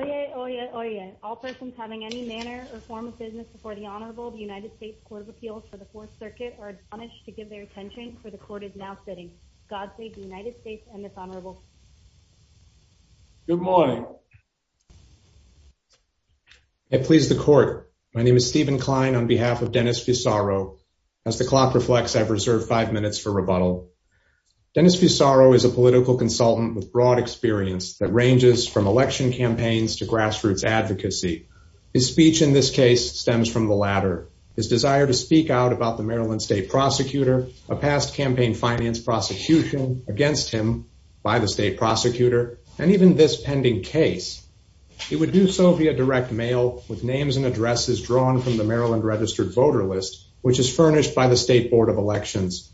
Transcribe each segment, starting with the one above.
Oyez, oyez, oyez. All persons having any manner or form of business before the Honorable of the United States Court of Appeals for the Fourth Circuit are admonished to give their attention for the court is now sitting. God save the United States and this Honorable. Good morning. I please the court. My name is Stephen Klein on behalf of Dennis Fusaro. As the clock reflects, I've reserved five minutes for rebuttal. Dennis Fusaro is a political consultant with broad experience that ranges from election campaigns to grassroots advocacy. His speech in this case stems from the latter. His desire to speak out about the Maryland state prosecutor, a past campaign finance prosecution against him by the state prosecutor, and even this pending case. He would do so via direct mail with names and addresses drawn from the Maryland registered voter list, which is furnished by the state board of elections.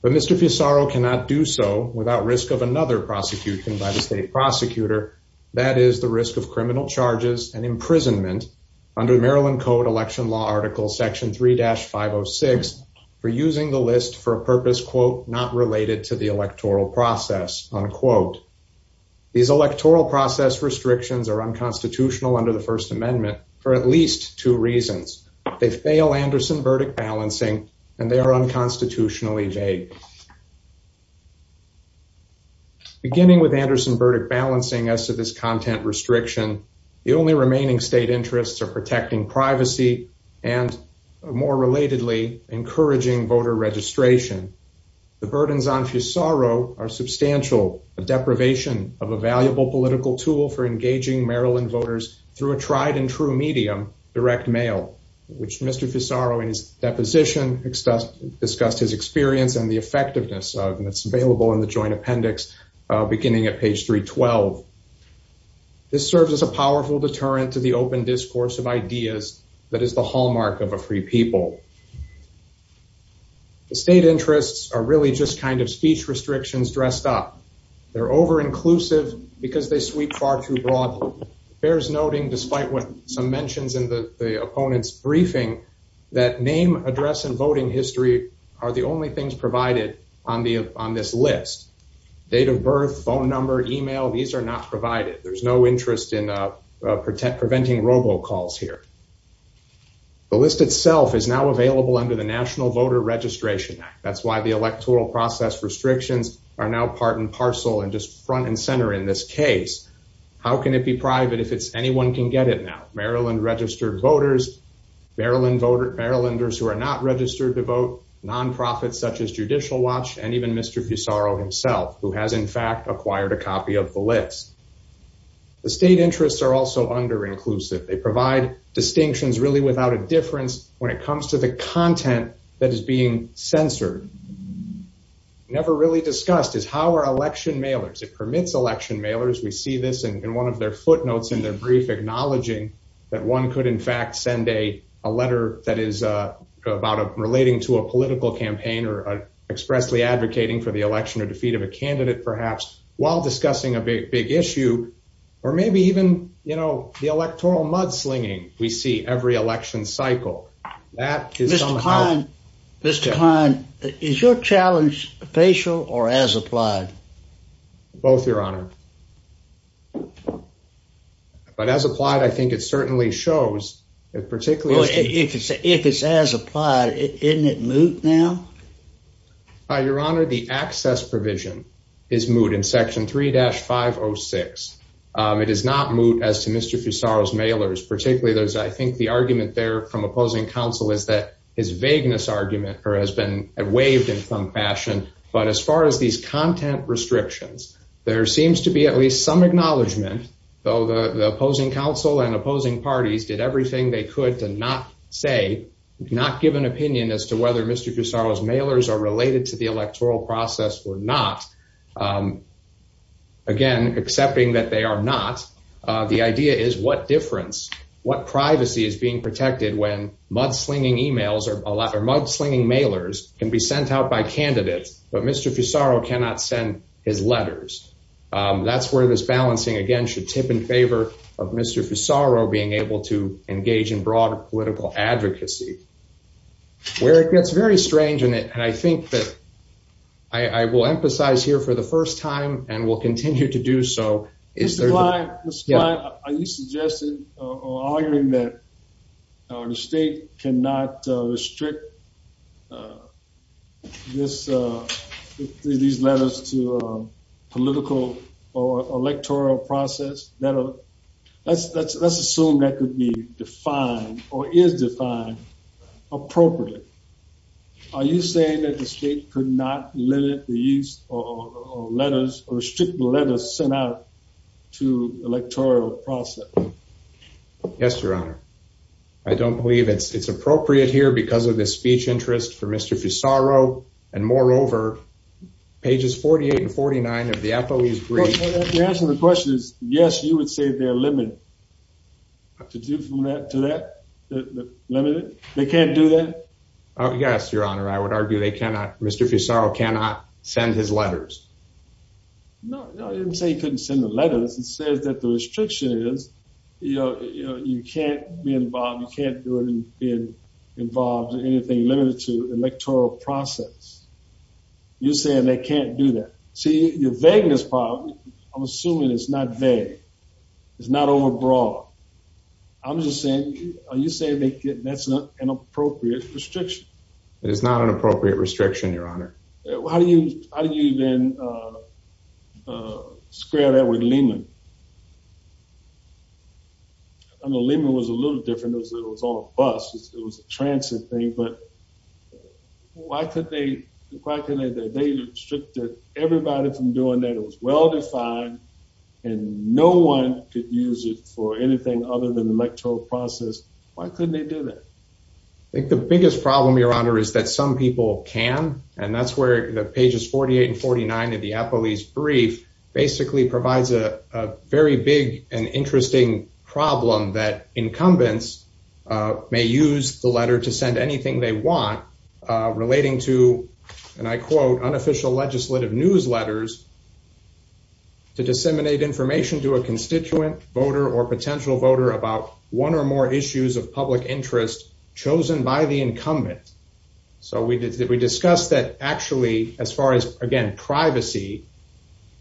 But Mr. Fusaro cannot do so without risk of another prosecution by the state prosecutor. That is the risk of criminal charges and imprisonment under Maryland Code Election Law Article Section 3-506 for using the list for a purpose, quote, not related to the electoral process, unquote. These electoral process restrictions are unconstitutional under the First Amendment for at least two reasons. They fail Anderson verdict balancing and they are unconstitutionally vague. Beginning with Anderson verdict balancing as to this content restriction, the only remaining state interests are protecting privacy and more relatedly, encouraging voter registration. The burdens on Fusaro are substantial, a deprivation of a valuable political tool for engaging Maryland voters through a tried and true medium, direct mail, which Mr. Fusaro in his deposition discussed his experience and the effectiveness of, and it's available in the joint appendix beginning at page 312. This serves as a powerful deterrent to the open discourse of ideas that is the hallmark of a free people. The state interests are really just kind of speech restrictions dressed up. They're over inclusive because they sweep far too broadly. There's noting despite what some mentions in the opponent's briefing, that name, address and voting history are the only things provided on this list. Date of birth, phone number, email, these are not provided. There's no interest in preventing robo calls here. The list itself is now available under the National Voter Registration Act. That's why the electoral process restrictions are now part and parcel and just front and center in this case. How can it be private if it's anyone can get it now? Maryland registered voters, Maryland voters, Marylanders who are not registered to vote, nonprofits such as Judicial Watch, and even Mr. Fusaro himself, who has in fact acquired a copy of the list. The state interests are also under inclusive. They provide distinctions really without a difference when it comes to the content that is being censored. Never really discussed is how our election mailers, it permits election mailers, we see this in one of their footnotes in their brief acknowledging that one could in fact send a letter that is about relating to a political campaign or expressly advocating for the election or defeat of a candidate perhaps, while discussing a big, big issue, or maybe even, you know, the electoral mudslinging we see every election cycle. Mr. Kahn, is your challenge facial or as applied? Both, Your Honor. But as applied, I think it certainly shows. If it's as applied, isn't it moot now? Your Honor, the access provision is moot in section 3-506. It is not moot as to Mr. Fusaro's mailers, particularly there's, I think the argument there from opposing counsel is that his vagueness argument has been waived in some fashion. But as far as these content restrictions, there seems to be at least some acknowledgement, though the opposing counsel and opposing parties did everything they could to not say, not give an opinion as to whether Mr. Fusaro's mailers are related to the electoral process or not. Again, accepting that they are not, the idea is what difference, what privacy is being protected when mudslinging emails or mudslinging mailers can be sent out by candidates, but Mr. Fusaro cannot send his letters. That's where this balancing again should tip in favor of Mr. Fusaro being able to engage in broad political advocacy. Where it gets very strange in it, and I think that I will emphasize here for the first time and will continue to do so. Mr. Klein, Mr. Klein, are you suggesting or arguing that the state cannot restrict this, these letters to a political or electoral process? Let's assume that could be defined or is defined appropriately. Are you saying that the state could not limit the use of letters or restrict the letters sent out to electoral process? Yes, Your Honor. I don't believe it's appropriate here because of the speech interest for Mr. Fusaro. And moreover, pages 48 and 49 of the FOE's brief. The answer to the question is yes, you would say they're limited. To do from that, to that, limited? They can't do that? Yes, Your Honor. I would argue they cannot, Mr. Fusaro cannot send his letters. No, no, I didn't say he couldn't send the letters. It says that the restriction is, you know, you can't be involved, you can't do it and be involved in anything limited to electoral process. You're saying they can't do that. See, your vagueness part, I'm assuming it's not vague. It's not overbroad. I'm just saying, are you saying that's not an appropriate restriction? It is not an appropriate restriction, Your Honor. How do you then square that with Lehman? I know Lehman was a little different. It was all bus. It was a transit thing, but why couldn't they restrict everybody from doing that? It was well defined and no one could use it for anything other than the electoral process. Why couldn't they do that? I think the biggest problem, Your Honor, is that some people can, and that's where the pages 48 and 49 of the police brief basically provides a very big and interesting problem that incumbents may use the letter to send anything they want relating to, and I quote, unofficial legislative newsletters. To disseminate information to a constituent voter or potential voter about one or more issues of public interest chosen by the incumbent. So we discussed that actually, as far as, again, privacy,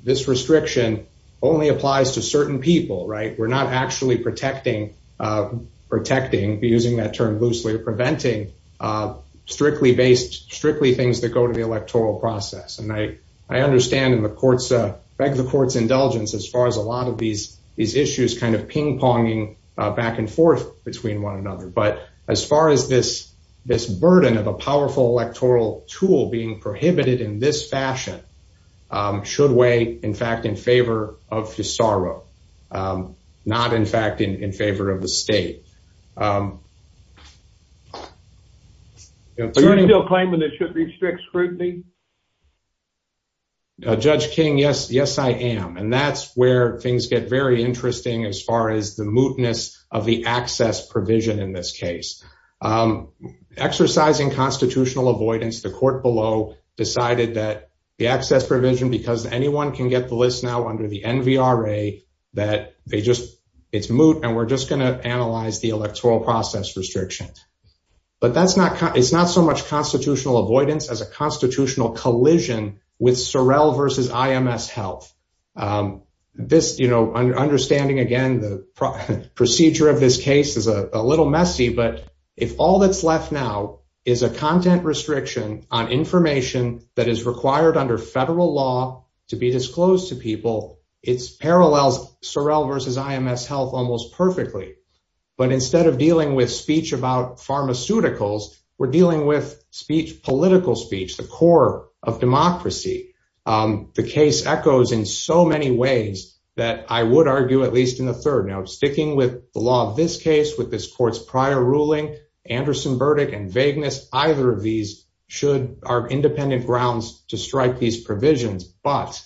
this restriction only applies to certain people, right? We're not actually protecting, using that term loosely, preventing strictly based, strictly things that go to the electoral process. And I understand and beg the court's indulgence as far as a lot of these issues kind of ping-ponging back and forth between one another. But as far as this burden of a powerful electoral tool being prohibited in this fashion should weigh, in fact, in favor of FISARO, not in fact in favor of the state. You're claiming it should restrict scrutiny? Judge King, yes, yes, I am. And that's where things get very interesting as far as the mootness of the access provision in this case. Exercising constitutional avoidance, the court below decided that the access provision, because anyone can get the list now under the NVRA, that they just, it's moot. And we're just going to analyze the electoral process restrictions. But that's not, it's not so much constitutional avoidance as a constitutional collision with Sorrell versus IMS health. This, you know, understanding, again, the procedure of this case is a little messy. But if all that's left now is a content restriction on information that is required under federal law to be disclosed to people, it parallels Sorrell versus IMS health almost perfectly. But instead of dealing with speech about pharmaceuticals, we're dealing with speech, political speech, the core of democracy. The case echoes in so many ways that I would argue, at least in the third note, sticking with the law of this case, with this court's prior ruling, Anderson verdict and vagueness, either of these should are independent grounds to strike these provisions. But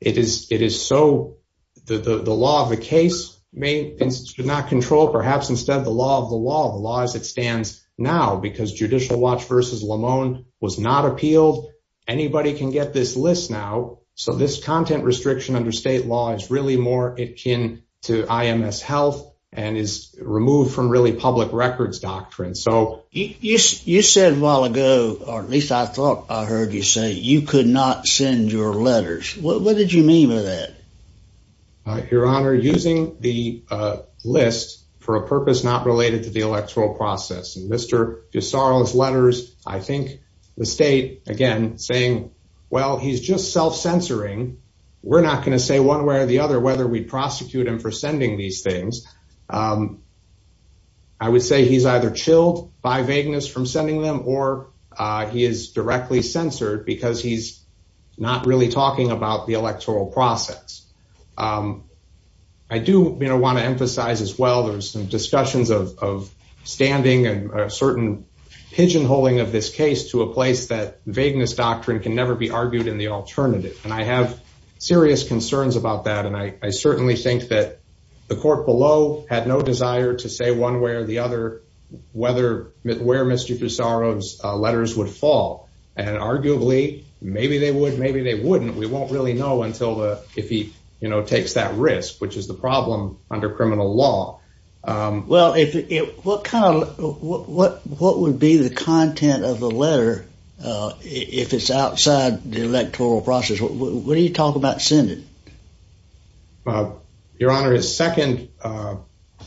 it is so, the law of the case may not control, perhaps instead the law of the law, the law as it stands now, because Judicial Watch versus Lamone was not appealed. Anybody can get this list now. So this content restriction under state law is really more akin to IMS health and is removed from really public records doctrine. You said a while ago, or at least I thought I heard you say, you could not send your letters. What did you mean by that? Your Honor, using the list for a purpose not related to the electoral process. And Mr. DeSarlo's letters, I think the state again saying, well, he's just self censoring. We're not going to say one way or the other, whether we prosecute him for sending these things. I would say he's either chilled by vagueness from sending them or he is directly censored because he's not really talking about the electoral process. I do want to emphasize as well, there's some discussions of standing and certain pigeonholing of this case to a place that vagueness doctrine can never be argued in the alternative. And I have serious concerns about that. And I certainly think that the court below had no desire to say one way or the other, whether where Mr. DeSarlo's letters would fall. And arguably, maybe they would, maybe they wouldn't. We won't really know until if he takes that risk, which is the problem under criminal law. Well, what would be the content of the letter if it's outside the electoral process? What do you talk about sending? Your Honor, his second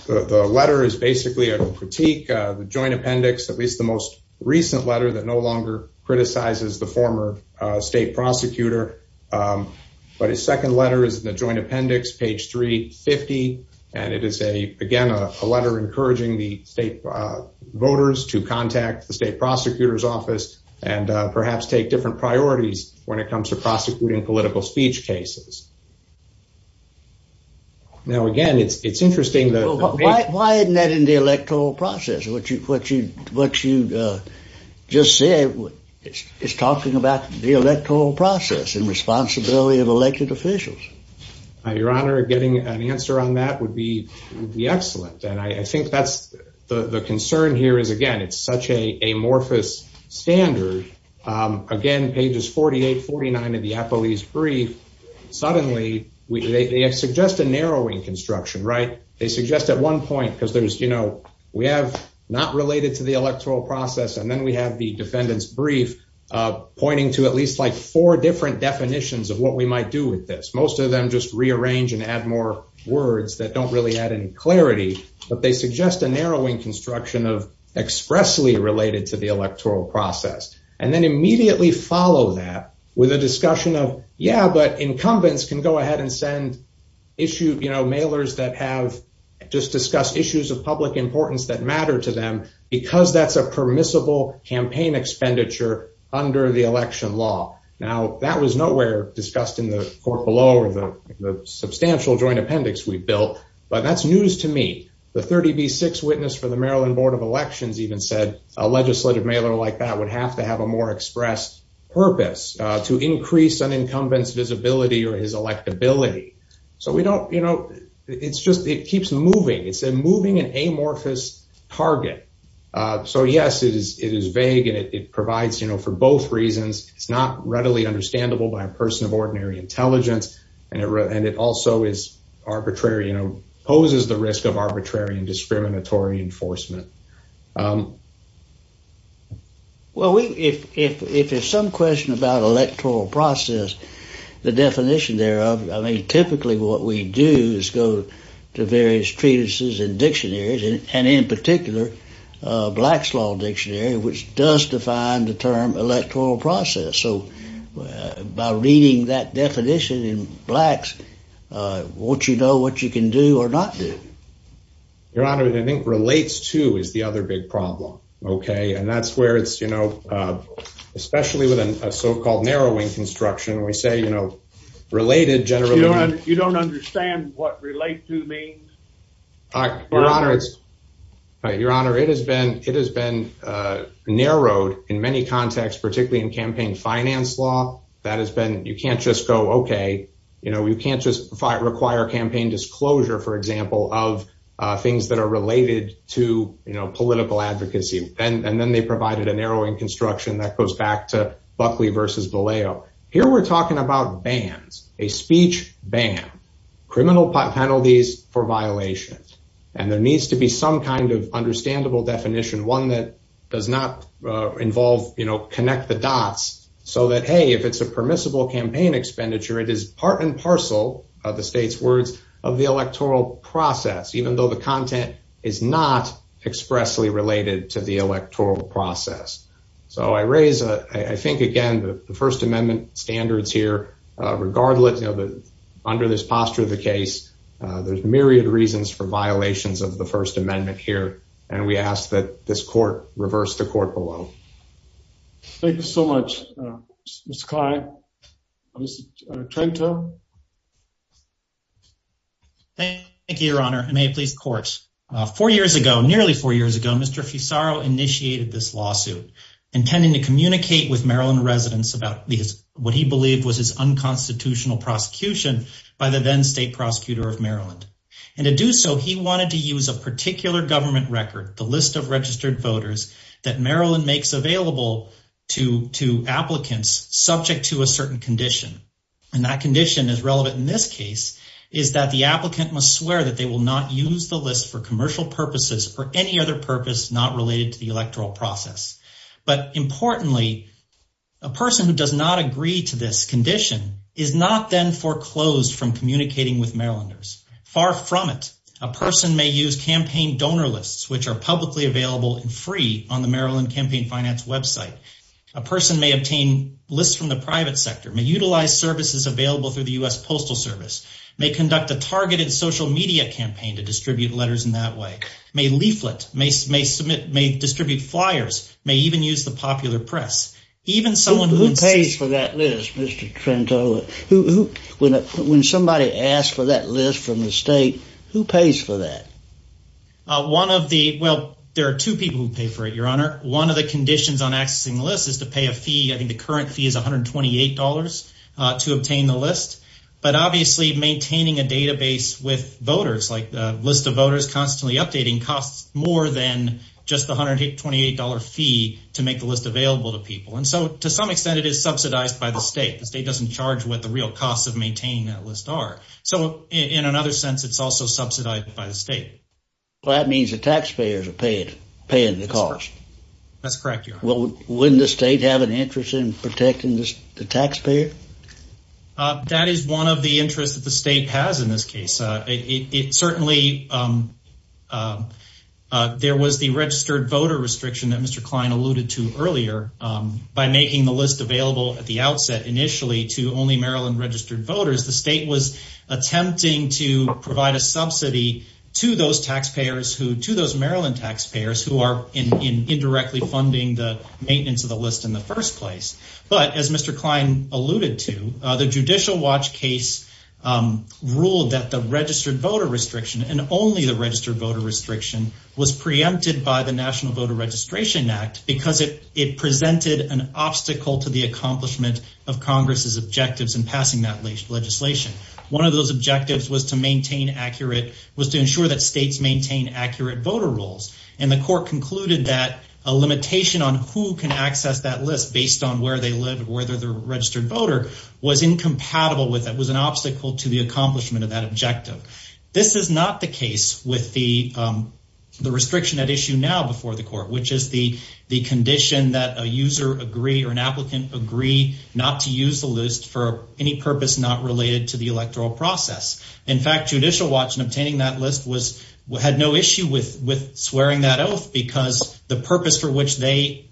letter is basically a critique of the joint appendix, at least the most recent letter that no longer criticizes the former state prosecutor. But his second letter is the joint appendix, page 350. And it is a, again, a letter encouraging the state voters to contact the state prosecutor's office and perhaps take different priorities when it comes to prosecuting political speech cases. Now, again, it's interesting. Why isn't that in the electoral process? What you just said is talking about the electoral process and responsibility of elected officials. Your Honor, getting an answer on that would be excellent. And I think that's the concern here is, again, it's such a amorphous standard. Again, pages 48, 49 of the police brief, suddenly they suggest a narrowing construction, right? They suggest at one point because there's, you know, we have not related to the electoral process. And then we have the defendant's brief pointing to at least like four different definitions of what we might do with this. Most of them just rearrange and add more words that don't really add any clarity. But they suggest a narrowing construction of expressly related to the electoral process. And then immediately follow that with a discussion of, yeah, but incumbents can go ahead and send issue, you know, mailers that have just discussed issues of public importance that matter to them because that's a permissible campaign expenditure under the election law. Now, that was nowhere discussed in the court below or the substantial joint appendix we built. But that's news to me. The 30B6 witness for the Maryland Board of Elections even said a legislative mailer like that would have to have a more express purpose to increase an incumbent's visibility or his electability. So we don't, you know, it's just it keeps moving. It's a moving and amorphous target. So, yes, it is vague and it provides, you know, for both reasons, it's not readily understandable by a person of ordinary intelligence. And it also is arbitrary, you know, poses the risk of arbitrary and discriminatory enforcement. Well, if there's some question about electoral process, the definition thereof, I mean, typically what we do is go to various treatises and dictionaries, and in particular, Black's Law Dictionary, which does define the term electoral process. So by reading that definition in Black's, won't you know what you can do or not do? Your Honor, I think relates to is the other big problem. OK, and that's where it's, you know, especially with a so-called narrowing construction, we say, you know, related generally. You don't understand what relate to means? Your Honor, it has been narrowed in many contexts, particularly in campaign finance law. That has been you can't just go, OK, you know, you can't just require campaign disclosure, for example, of things that are related to political advocacy. And then they provided a narrowing construction that goes back to Buckley versus Vallejo. Here we're talking about bans, a speech ban, criminal penalties for violations. And there needs to be some kind of understandable definition, one that does not involve, you know, connect the dots so that, hey, if it's a permissible campaign expenditure, it is part and parcel of the state's words of the electoral process, even though the content is not expressly related to the electoral process. So I raise, I think, again, the First Amendment standards here. Regardless, you know, under this posture of the case, there's myriad reasons for violations of the First Amendment here. And we ask that this court reverse the court below. Thank you so much, Mr. Klein. Thank you, Your Honor. Four years ago, nearly four years ago, Mr. Fisaro initiated this lawsuit intending to communicate with Maryland residents about what he believed was his unconstitutional prosecution by the then state prosecutor of Maryland. And to do so, he wanted to use a particular government record, the list of registered voters that Maryland makes available to applicants subject to a certain condition. And that condition is relevant in this case, is that the applicant must swear that they will not use the list for commercial purposes or any other purpose not related to the electoral process. But importantly, a person who does not agree to this condition is not then foreclosed from communicating with Marylanders. Far from it, a person may use campaign donor lists, which are publicly available and free on the Maryland Campaign Finance website. A person may obtain lists from the private sector, may utilize services available through the U.S. Postal Service, may conduct a targeted social media campaign to distribute letters in that way, may leaflet, may submit, may distribute flyers, may even use the popular press. Who pays for that list, Mr. Trento? When somebody asks for that list from the state, who pays for that? Well, there are two people who pay for it, Your Honor. One of the conditions on accessing the list is to pay a fee. I think the current fee is $128 to obtain the list. But obviously, maintaining a database with voters, like the list of voters constantly updating, costs more than just the $128 fee to make the list available to people. And so to some extent, it is subsidized by the state. The state doesn't charge what the real costs of maintaining that list are. So in another sense, it's also subsidized by the state. Well, that means the taxpayers are paying the cost. That's correct, Your Honor. Wouldn't the state have an interest in protecting the taxpayer? That is one of the interests that the state has in this case. Certainly, there was the registered voter restriction that Mr. Klein alluded to earlier. By making the list available at the outset initially to only Maryland registered voters, the state was attempting to provide a subsidy to those Maryland taxpayers who are indirectly funding the maintenance of the list in the first place. But as Mr. Klein alluded to, the Judicial Watch case ruled that the registered voter restriction and only the registered voter restriction was preempted by the National Voter Registration Act because it presented an obstacle to the accomplishment of Congress' objectives in passing that legislation. One of those objectives was to ensure that states maintain accurate voter rolls. And the court concluded that a limitation on who can access that list based on where they live or whether they're a registered voter was incompatible with that, was an obstacle to the accomplishment of that objective. This is not the case with the restriction at issue now before the court, which is the condition that a user agree or an applicant agree not to use the list for any purpose not related to the electoral process. In fact, Judicial Watch in obtaining that list had no issue with swearing that oath because the purpose for which they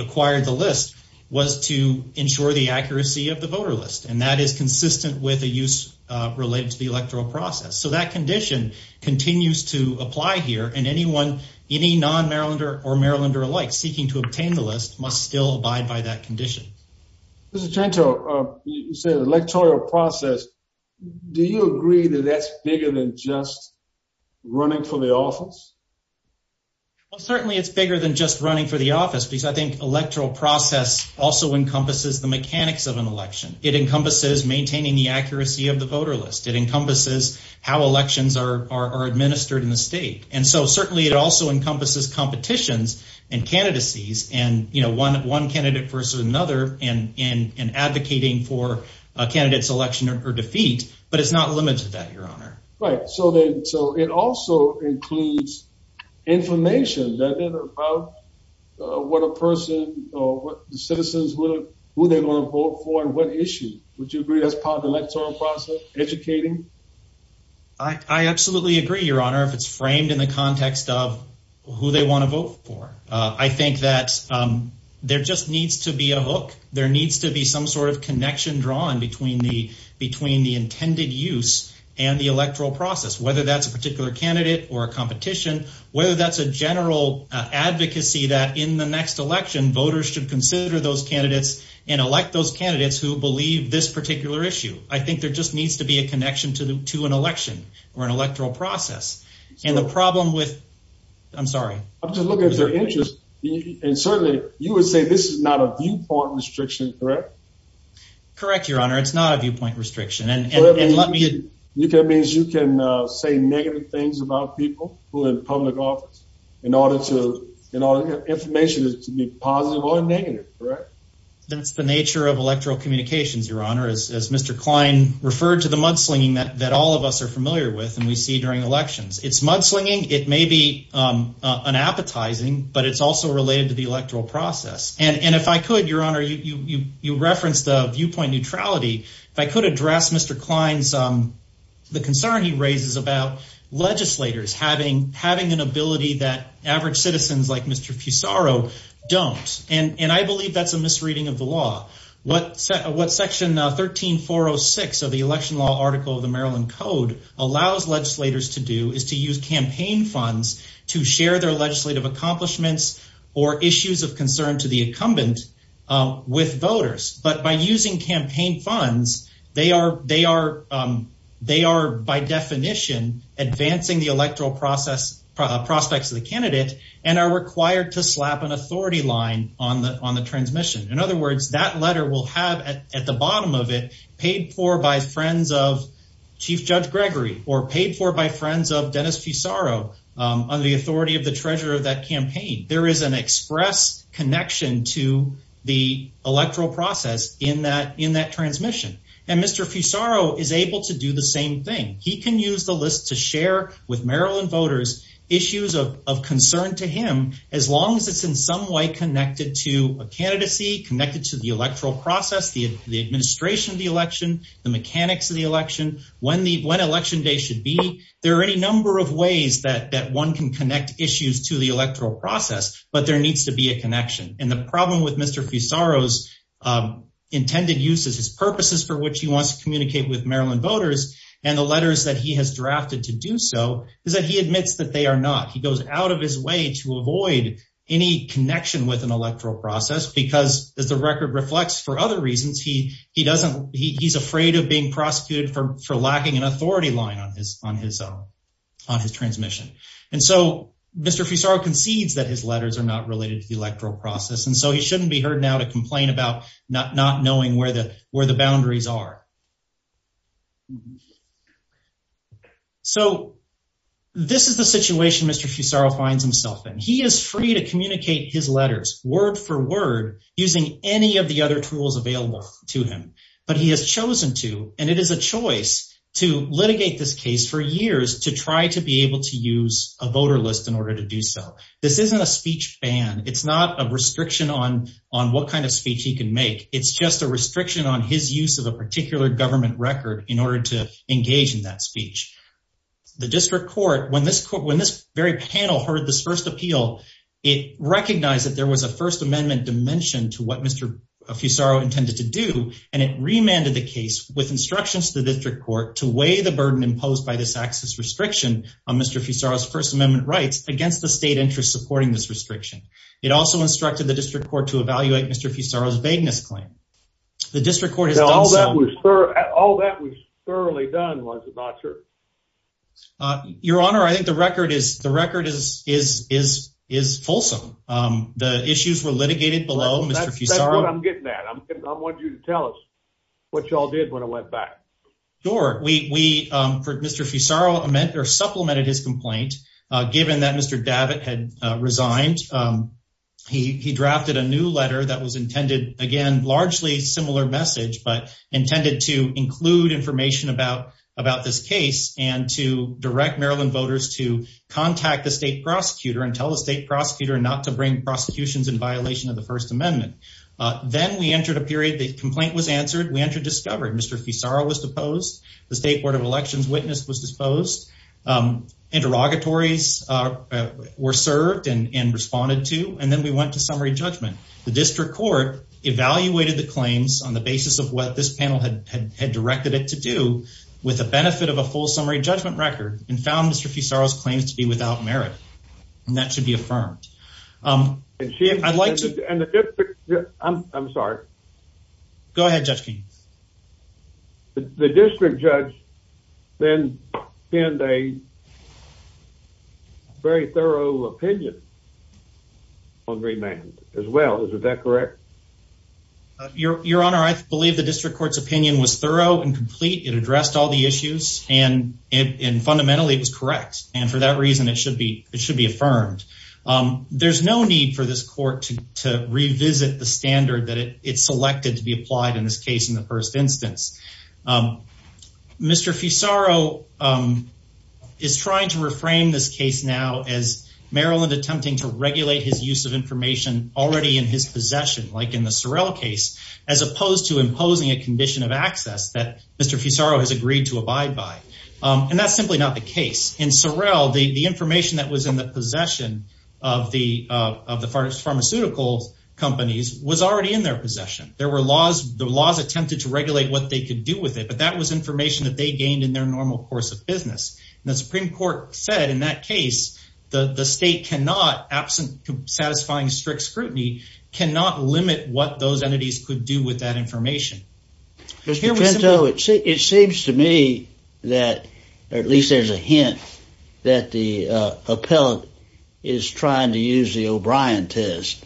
acquired the list was to ensure the accuracy of the voter list, and that is consistent with a use related to the electoral process. So that condition continues to apply here, and anyone, any non-Marylander or Marylander alike seeking to obtain the list must still abide by that condition. Mr. Chanto, you said electoral process. Do you agree that that's bigger than just running for the office? Well, certainly it's bigger than just running for the office because I think electoral process also encompasses the mechanics of an election. It encompasses maintaining the accuracy of the voter list. It encompasses how elections are administered in the state. And so certainly it also encompasses competitions and candidacies and one candidate versus another in advocating for a candidate's election or defeat, but it's not limited to that, Your Honor. Right. So it also includes information, doesn't it, about what a person or what the citizens, who they're going to vote for and what issue. Would you agree that's part of the electoral process, educating? I absolutely agree, Your Honor, if it's framed in the context of who they want to vote for. I think that there just needs to be a hook. There needs to be some sort of connection drawn between the intended use and the electoral process, whether that's a particular candidate or a competition, whether that's a general advocacy that in the next election, voters should consider those candidates and elect those candidates who believe this particular issue. I think there just needs to be a connection to an election or an electoral process. And the problem with... I'm sorry. I'm just looking at their interest. And certainly you would say this is not a viewpoint restriction, correct? Correct, Your Honor. It's not a viewpoint restriction. That means you can say negative things about people who are in public office in order to... information is to be positive or negative, correct? That's the nature of electoral communications, Your Honor, as Mr. Klein referred to the mudslinging that all of us are familiar with and we see during elections. It's mudslinging. It may be unappetizing, but it's also related to the electoral process. And if I could, Your Honor, you referenced the viewpoint neutrality. If I could address Mr. Klein's... the concern he raises about legislators having an ability that average citizens like Mr. Fusaro don't. And I believe that's a misreading of the law. What Section 13406 of the Election Law Article of the Maryland Code allows legislators to do is to use campaign funds to share their legislative accomplishments or issues of concern to the incumbent with voters. But by using campaign funds, they are by definition advancing the electoral prospects of the candidate and are required to slap an authority line on the transmission. In other words, that letter will have at the bottom of it paid for by friends of Chief Judge Gregory or paid for by friends of Dennis Fusaro under the authority of the treasurer of that campaign. There is an express connection to the electoral process in that transmission. And Mr. Fusaro is able to do the same thing. He can use the list to share with Maryland voters issues of concern to him as long as it's in some way connected to a candidacy, connected to the electoral process, the administration of the election, the mechanics of the election, when Election Day should be. There are any number of ways that one can connect issues to the electoral process, but there needs to be a connection. And the problem with Mr. Fusaro's intended use of his purposes for which he wants to communicate with Maryland voters and the letters that he has drafted to do so is that he admits that they are not. He goes out of his way to avoid any connection with an electoral process because, as the record reflects, for other reasons, he's afraid of being prosecuted for lacking an authority line on his transmission. And so Mr. Fusaro concedes that his letters are not related to the electoral process, and so he shouldn't be heard now to complain about not knowing where the boundaries are. So this is the situation Mr. Fusaro finds himself in. He is free to communicate his letters word for word using any of the other tools available to him, but he has chosen to, and it is a choice to litigate this case for years to try to be able to use a voter list in order to do so. This isn't a speech ban. It's not a restriction on what kind of speech he can make. It's just a restriction on his use of a particular government record in order to engage in that speech. The district court, when this very panel heard this first appeal, it recognized that there was a First Amendment dimension to what Mr. Fusaro intended to do, and it remanded the case with instructions to the district court to weigh the burden imposed by this access restriction on Mr. Fusaro's First Amendment rights against the state interest supporting this restriction. It also instructed the district court to evaluate Mr. Fusaro's vagueness claim. All that was thoroughly done, was it not, sir? Your Honor, I think the record is fulsome. The issues were litigated below Mr. Fusaro. That's what I'm getting at. I want you to tell us what y'all did when I went back. Sure. Mr. Fusaro supplemented his complaint, given that Mr. Davitt had resigned. He drafted a new letter that was intended, again, largely similar message, but intended to include information about this case and to direct Maryland voters to contact the state prosecutor and tell the state prosecutor not to bring prosecutions in violation of the First Amendment. Then we entered a period, the complaint was answered, we entered discovery. Mr. Fusaro was deposed, the State Board of Elections witness was disposed, interrogatories were served and responded to, and then we went to summary judgment. The district court evaluated the claims on the basis of what this panel had directed it to do, with the benefit of a full summary judgment record, and found Mr. Fusaro's claims to be without merit, and that should be affirmed. I'm sorry. Go ahead, Judge Keynes. The district judge then had a very thorough opinion on remand as well. Is that correct? Your Honor, I believe the district court's opinion was thorough and complete. It addressed all the issues, and fundamentally it was correct, and for that reason it should be affirmed. There's no need for this court to revisit the standard that it selected to be applied in this case in the first instance. Mr. Fusaro is trying to reframe this case now as Maryland attempting to regulate his use of information already in his possession, like in the Sorrell case, as opposed to imposing a condition of access that Mr. Fusaro has agreed to abide by. And that's simply not the case. In Sorrell, the information that was in the possession of the pharmaceutical companies was already in their possession. The laws attempted to regulate what they could do with it, but that was information that they gained in their normal course of business. The Supreme Court said in that case that the state, absent satisfying strict scrutiny, cannot limit what those entities could do with that information. It seems to me that, or at least there's a hint, that the appellate is trying to use the O'Brien test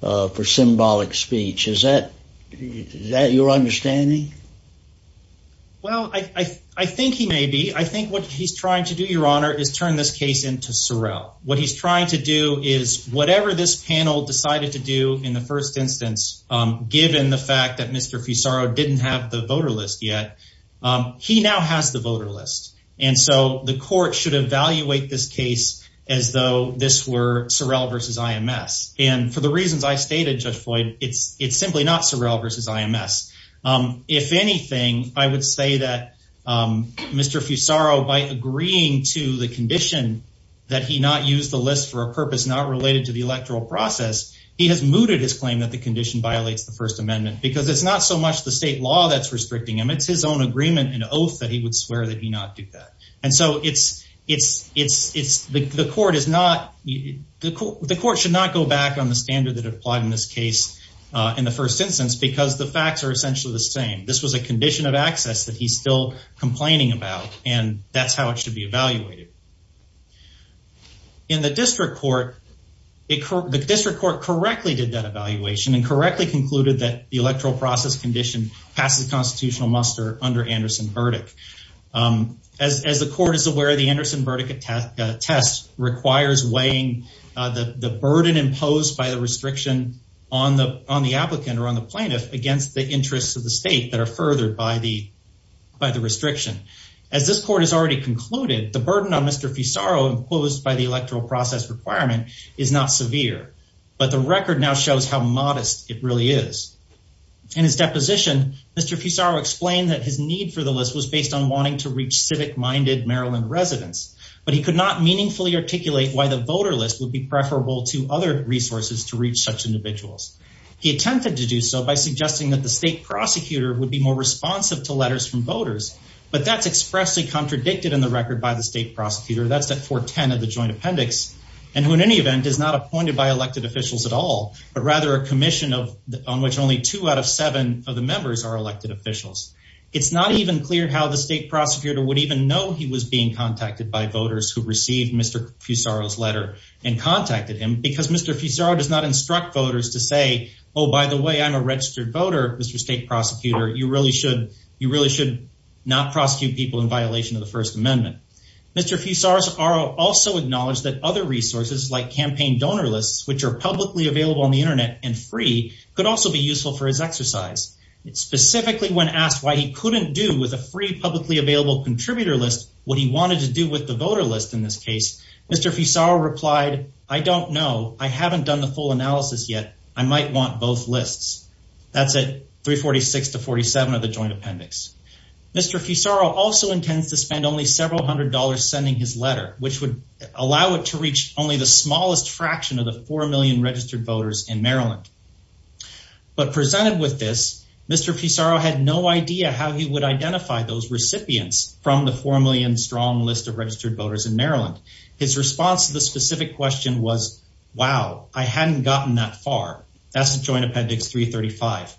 for symbolic speech. Is that your understanding? Well, I think he may be. I think what he's trying to do, Your Honor, is turn this case into Sorrell. What he's trying to do is whatever this panel decided to do in the first instance, given the fact that Mr. Fusaro didn't have the voter list yet, he now has the voter list. And so the court should evaluate this case as though this were Sorrell versus IMS. And for the reasons I stated, Judge Floyd, it's simply not Sorrell versus IMS. If anything, I would say that Mr. Fusaro, by agreeing to the condition that he not use the list for a purpose not related to the electoral process, he has mooted his claim that the condition violates the First Amendment because it's not so much the state law that's restricting him. It's his own agreement and oath that he would swear that he not do that. And so the court should not go back on the standard that applied in this case in the first instance because the facts are essentially the same. This was a condition of access that he's still complaining about, and that's how it should be evaluated. In the district court, the district court correctly did that evaluation and correctly concluded that the electoral process condition passes constitutional muster under Anderson's verdict. As the court is aware, the Anderson verdict test requires weighing the burden imposed by the restriction on the applicant or on the plaintiff against the interests of the state that are furthered by the restriction. As this court has already concluded, the burden on Mr. Fusaro imposed by the electoral process requirement is not severe, but the record now shows how modest it really is. In his deposition, Mr. Fusaro explained that his need for the list was based on wanting to reach civic-minded Maryland residents, but he could not meaningfully articulate why the voter list would be preferable to other resources to reach such individuals. He attempted to do so by suggesting that the state prosecutor would be more responsive to letters from voters, but that's expressly contradicted in the record by the state prosecutor, that's at 410 of the joint appendix, and who in any event is not appointed by elected officials at all, but rather a commission on which only two out of seven of the members are elected officials. It's not even clear how the state prosecutor would even know he was being contacted by voters who received Mr. Fusaro's letter and contacted him, because Mr. Fusaro does not instruct voters to say, oh, by the way, I'm a registered voter, Mr. State Prosecutor, you really should not prosecute people in violation of the First Amendment. Mr. Fusaro also acknowledged that other resources like campaign donor lists, which are publicly available on the Internet and free, could also be useful for his exercise. Specifically when asked why he couldn't do with a free publicly available contributor list what he wanted to do with the voter list in this case, Mr. Fusaro replied, I don't know, I haven't done the full analysis yet, I might want both lists. That's at 346 to 47 of the joint appendix. Mr. Fusaro also intends to spend only several hundred dollars sending his letter, which would allow it to reach only the smallest fraction of the 4 million registered voters in Maryland. But presented with this, Mr. Fusaro had no idea how he would identify those recipients from the 4 million strong list of registered voters in Maryland. His response to the specific question was, wow, I hadn't gotten that far. That's the joint appendix 335.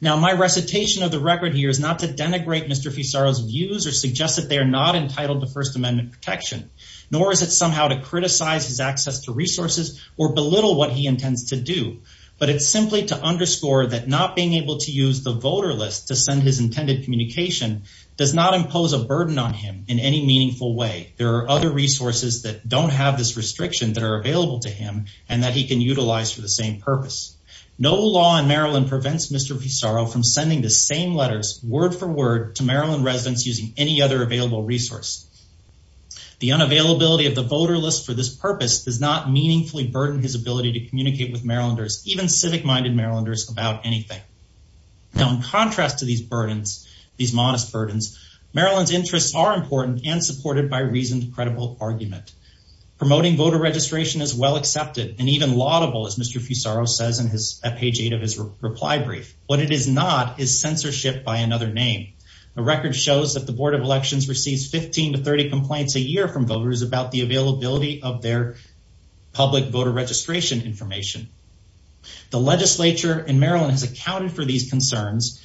Now my recitation of the record here is not to denigrate Mr. Fusaro's views or suggest that they are not entitled to First Amendment protection, nor is it somehow to criticize his access to resources or belittle what he intends to do. But it's simply to underscore that not being able to use the voter list to send his intended communication does not impose a burden on him in any meaningful way. There are other resources that don't have this restriction that are available to him and that he can utilize for the same purpose. No law in Maryland prevents Mr. Fusaro from sending the same letters, word for word, to Maryland residents using any other available resource. The unavailability of the voter list for this purpose does not meaningfully burden his ability to communicate with Marylanders, even civic-minded Marylanders, about anything. Now in contrast to these burdens, these modest burdens, Maryland's interests are important and supported by reasoned, credible argument. Promoting voter registration is well accepted and even laudable, as Mr. Fusaro says at page 8 of his reply brief. What it is not is censorship by another name. The record shows that the Board of Elections receives 15 to 30 complaints a year from voters about the availability of their public voter registration information. The legislature in Maryland has accounted for these concerns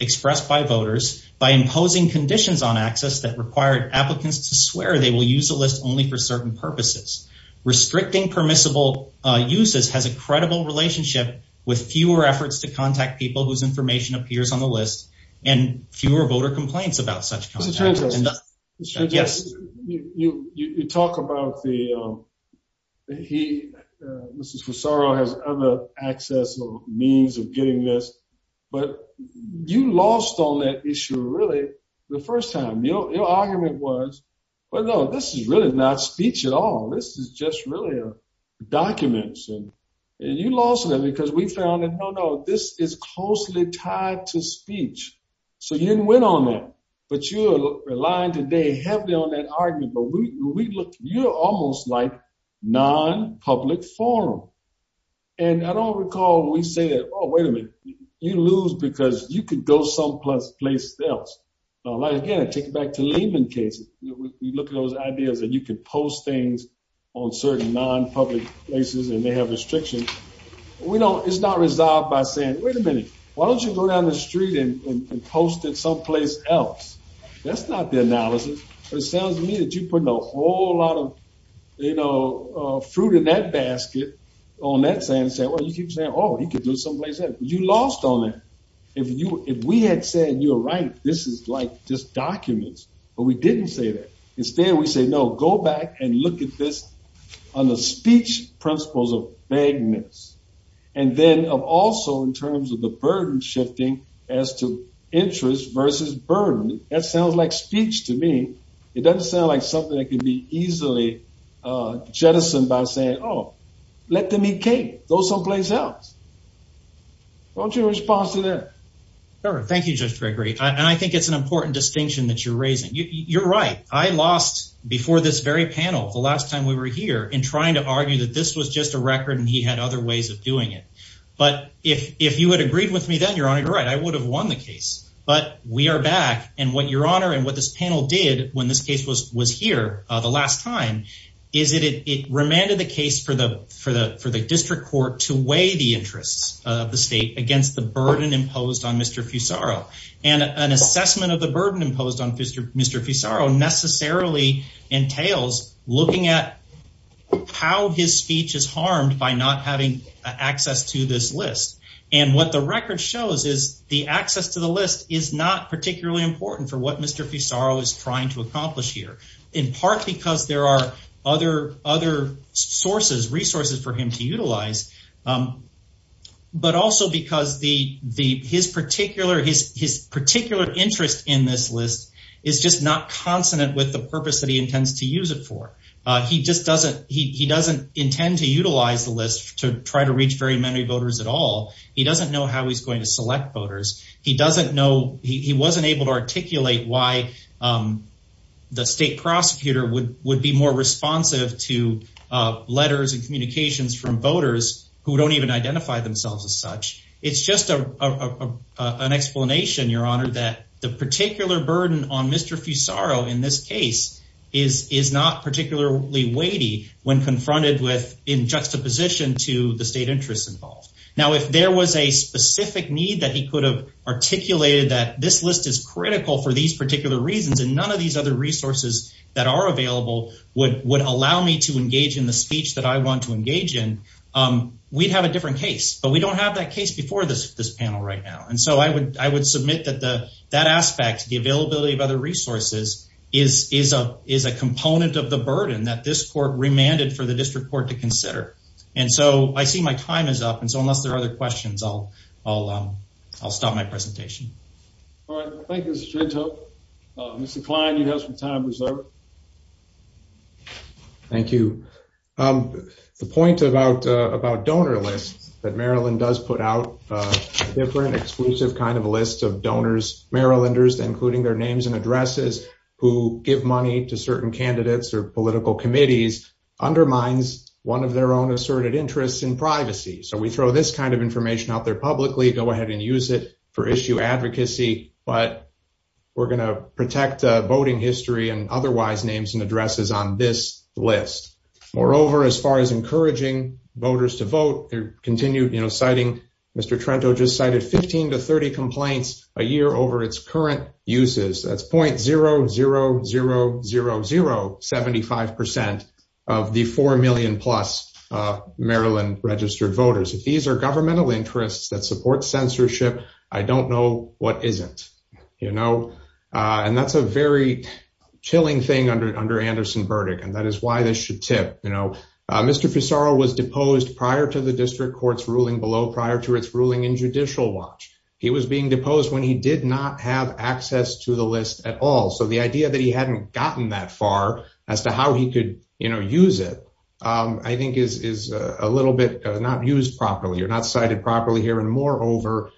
expressed by voters by imposing conditions on access that required applicants to swear they will use the list only for certain purposes. Restricting permissible uses has a credible relationship with fewer efforts to contact people whose information appears on the list and fewer voter complaints about such contact. You talk about the, he, Mr. Fusaro has other access or means of getting this, but you lost on that issue really the first time. Your argument was, well, no, this is really not speech at all. This is just really documents. And you lost on that because we found that, no, no, this is closely tied to speech. So you didn't win on that, but you're relying today heavily on that argument. But we look, you're almost like non-public forum. And I don't recall when we say that, oh, wait a minute, you lose because you could go someplace else. Again, I take it back to Lehman cases. You look at those ideas and you can post things on certain non-public places and they have restrictions. We don't, it's not resolved by saying, wait a minute, why don't you go down the street and post it someplace else? That's not the analysis. But it sounds to me that you're putting a whole lot of, you know, fruit in that basket on that saying, saying, well, you keep saying, oh, he could do someplace else. You lost on that. If we had said, you're right, this is like just documents. But we didn't say that. Instead, we say, no, go back and look at this on the speech principles of vagueness. And then also in terms of the burden shifting as to interest versus burden. That sounds like speech to me. It doesn't sound like something that can be easily jettisoned by saying, oh, let them eat cake, go someplace else. What's your response to that? Thank you, Judge Gregory. And I think it's an important distinction that you're raising. You're right. I lost before this very panel the last time we were here in trying to argue that this was just a record and he had other ways of doing it. But if you had agreed with me then, Your Honor, you're right, I would have won the case. But we are back. And what Your Honor and what this panel did when this case was here the last time is that it remanded the case for the district court to weigh the interests of the state against the burden imposed on Mr. Fusaro. And an assessment of the burden imposed on Mr. Fusaro necessarily entails looking at how his speech is harmed by not having access to this list. And what the record shows is the access to the list is not particularly important for what Mr. Fusaro is trying to accomplish here. In part because there are other resources for him to utilize, but also because his particular interest in this list is just not consonant with the purpose that he intends to use it for. He doesn't intend to utilize the list to try to reach very many voters at all. He doesn't know how he's going to select voters. He doesn't know, he wasn't able to articulate why the state prosecutor would be more responsive to letters and communications from voters who don't even identify themselves as such. It's just an explanation, Your Honor, that the particular burden on Mr. Fusaro in this case is not particularly weighty when confronted with in juxtaposition to the state interests involved. Now, if there was a specific need that he could have articulated that this list is critical for these particular reasons and none of these other resources that are available would allow me to engage in the speech that I want to engage in, we'd have a different case. But we don't have that case before this panel right now. And so I would submit that that aspect, the availability of other resources, is a component of the burden that this court remanded for the district court to consider. And so I see my time is up. And so unless there are other questions, I'll stop my presentation. All right. Thank you, Mr. Trenthope. Mr. Kline, you have some time reserved. Thank you. The point about donor lists that Maryland does put out a different, exclusive kind of list of donors, Marylanders, including their names and addresses, who give money to certain candidates or political committees undermines one of their own asserted interests in privacy. So we throw this kind of information out there publicly, go ahead and use it for issue advocacy. But we're going to protect voting history and otherwise names and addresses on this list. Moreover, as far as encouraging voters to vote, they continue citing, Mr. Trenthope just cited 15 to 30 complaints a year over its current uses. That's .000075% of the 4 million plus Maryland registered voters. If these are governmental interests that support censorship, I don't know what isn't. And that's a very chilling thing under Anderson Burdick. And that is why this should tip. Mr. Fusaro was deposed prior to the district court's ruling below, prior to its ruling in Judicial Watch. He was being deposed when he did not have access to the list at all. So the idea that he hadn't gotten that far as to how he could use it, I think is a little bit not used properly or not cited properly here. And moreover,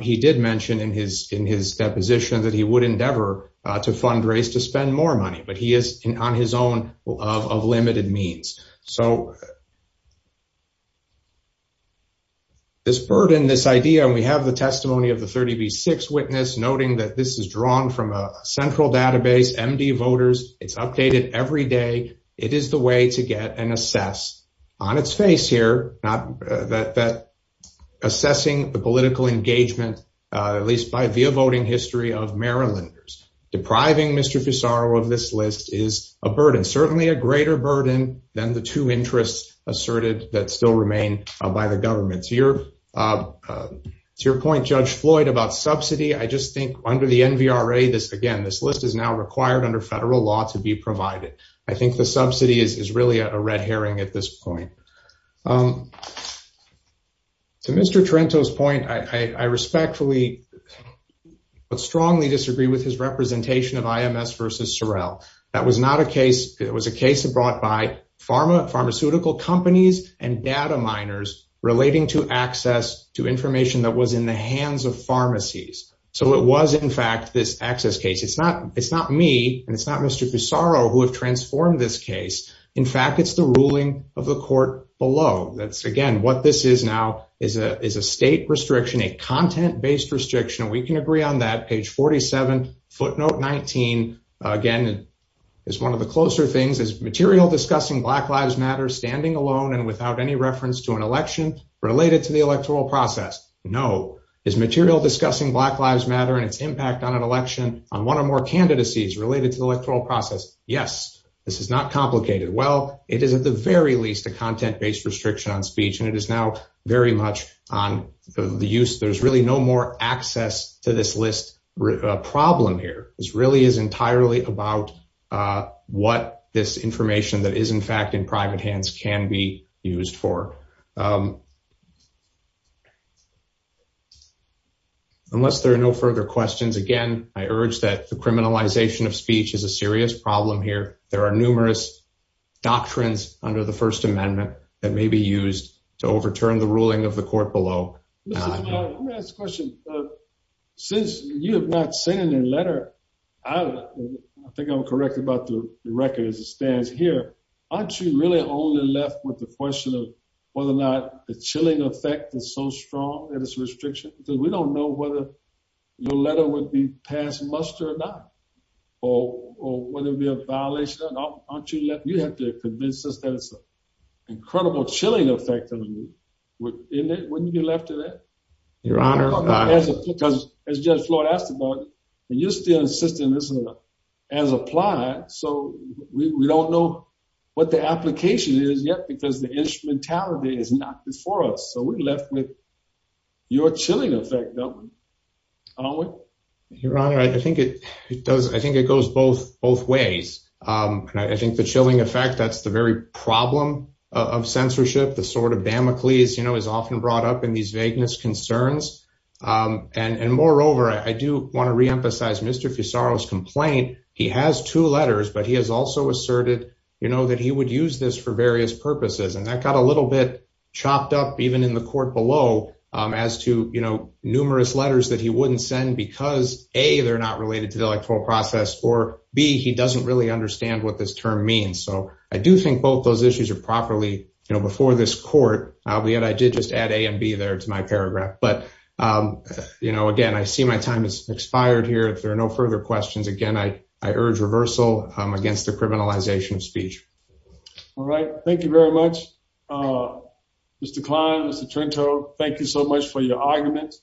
he did mention in his deposition that he would endeavor to fundraise to spend more money. But he is on his own of limited means. So this burden, this idea, and we have the testimony of the 30 v. 6 witness noting that this is drawn from a central database, MD voters. It's updated every day. It is the way to get an assess on its face here, not that assessing the political engagement, at least by via voting history of Marylanders. Depriving Mr. Fusaro of this list is a burden, certainly a greater burden than the two interests asserted that still remain by the government. To your point, Judge Floyd, about subsidy, I just think under the NVRA, this again, this list is now required under federal law to be provided. So the subsidy is really a red herring at this point. To Mr. Trento's point, I respectfully but strongly disagree with his representation of IMS v. Sorrell. That was not a case, it was a case brought by pharmaceutical companies and data miners relating to access to information that was in the hands of pharmacies. So it was, in fact, this access case. It's not me and it's not Mr. Fusaro who have transformed this case. In fact, it's the ruling of the court below. That's again, what this is now is a state restriction, a content-based restriction. We can agree on that. Page 47, footnote 19, again, is one of the closer things. Is material discussing Black Lives Matter standing alone and without any reference to an election related to the electoral process? No. Is material discussing Black Lives Matter and its impact on an election, on one or more candidacies related to the electoral process? Yes. This is not complicated. Well, it is at the very least a content-based restriction on speech and it is now very much on the use. There's really no more access to this list problem here. This really is entirely about what this information that is, in fact, in private hands can be used for. Unless there are no further questions, again, I urge that the criminalization of speech is a serious problem here. There are numerous doctrines under the First Amendment that may be used to overturn the ruling of the court below. Let me ask a question. Since you have not sent in a letter, I think I'm correct about the record as it stands here. Aren't you really only left with the question of whether or not the chilling effect is so strong that it's a restriction? Because we don't know whether your letter would be passed muster or not, or whether it would be a violation. You have to convince us that it's an incredible chilling effect. Wouldn't you be left with that? As Judge Floyd asked about it, you're still insisting this is as applied. So we don't know what the application is yet because the instrumentality is not before us. So we're left with your chilling effect, aren't we? Your Honor, I think it does. I think it goes both both ways. I think the chilling effect, that's the very problem of censorship. The sort of bamacles, you know, is often brought up in these vagueness concerns. And moreover, I do want to reemphasize Mr. Fusaro's complaint. He has two letters, but he has also asserted, you know, that he would use this for various purposes. And that got a little bit chopped up, even in the court below, as to, you know, numerous letters that he wouldn't send. Because A, they're not related to the electoral process, or B, he doesn't really understand what this term means. So I do think both those issues are properly, you know, before this court. Albeit, I did just add A and B there to my paragraph. But, you know, again, I see my time has expired here. If there are no further questions, again, I urge reversal against the criminalization of speech. All right. Thank you very much. Mr. Klein, Mr. Trento, thank you so much for your argument.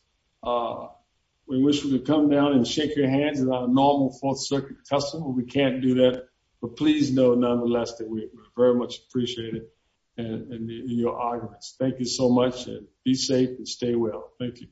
We wish we could come down and shake your hands in our normal Fourth Circuit testimony. We can't do that. But please know, nonetheless, that we very much appreciate it and your arguments. Thank you so much. Be safe and stay well. Thank you.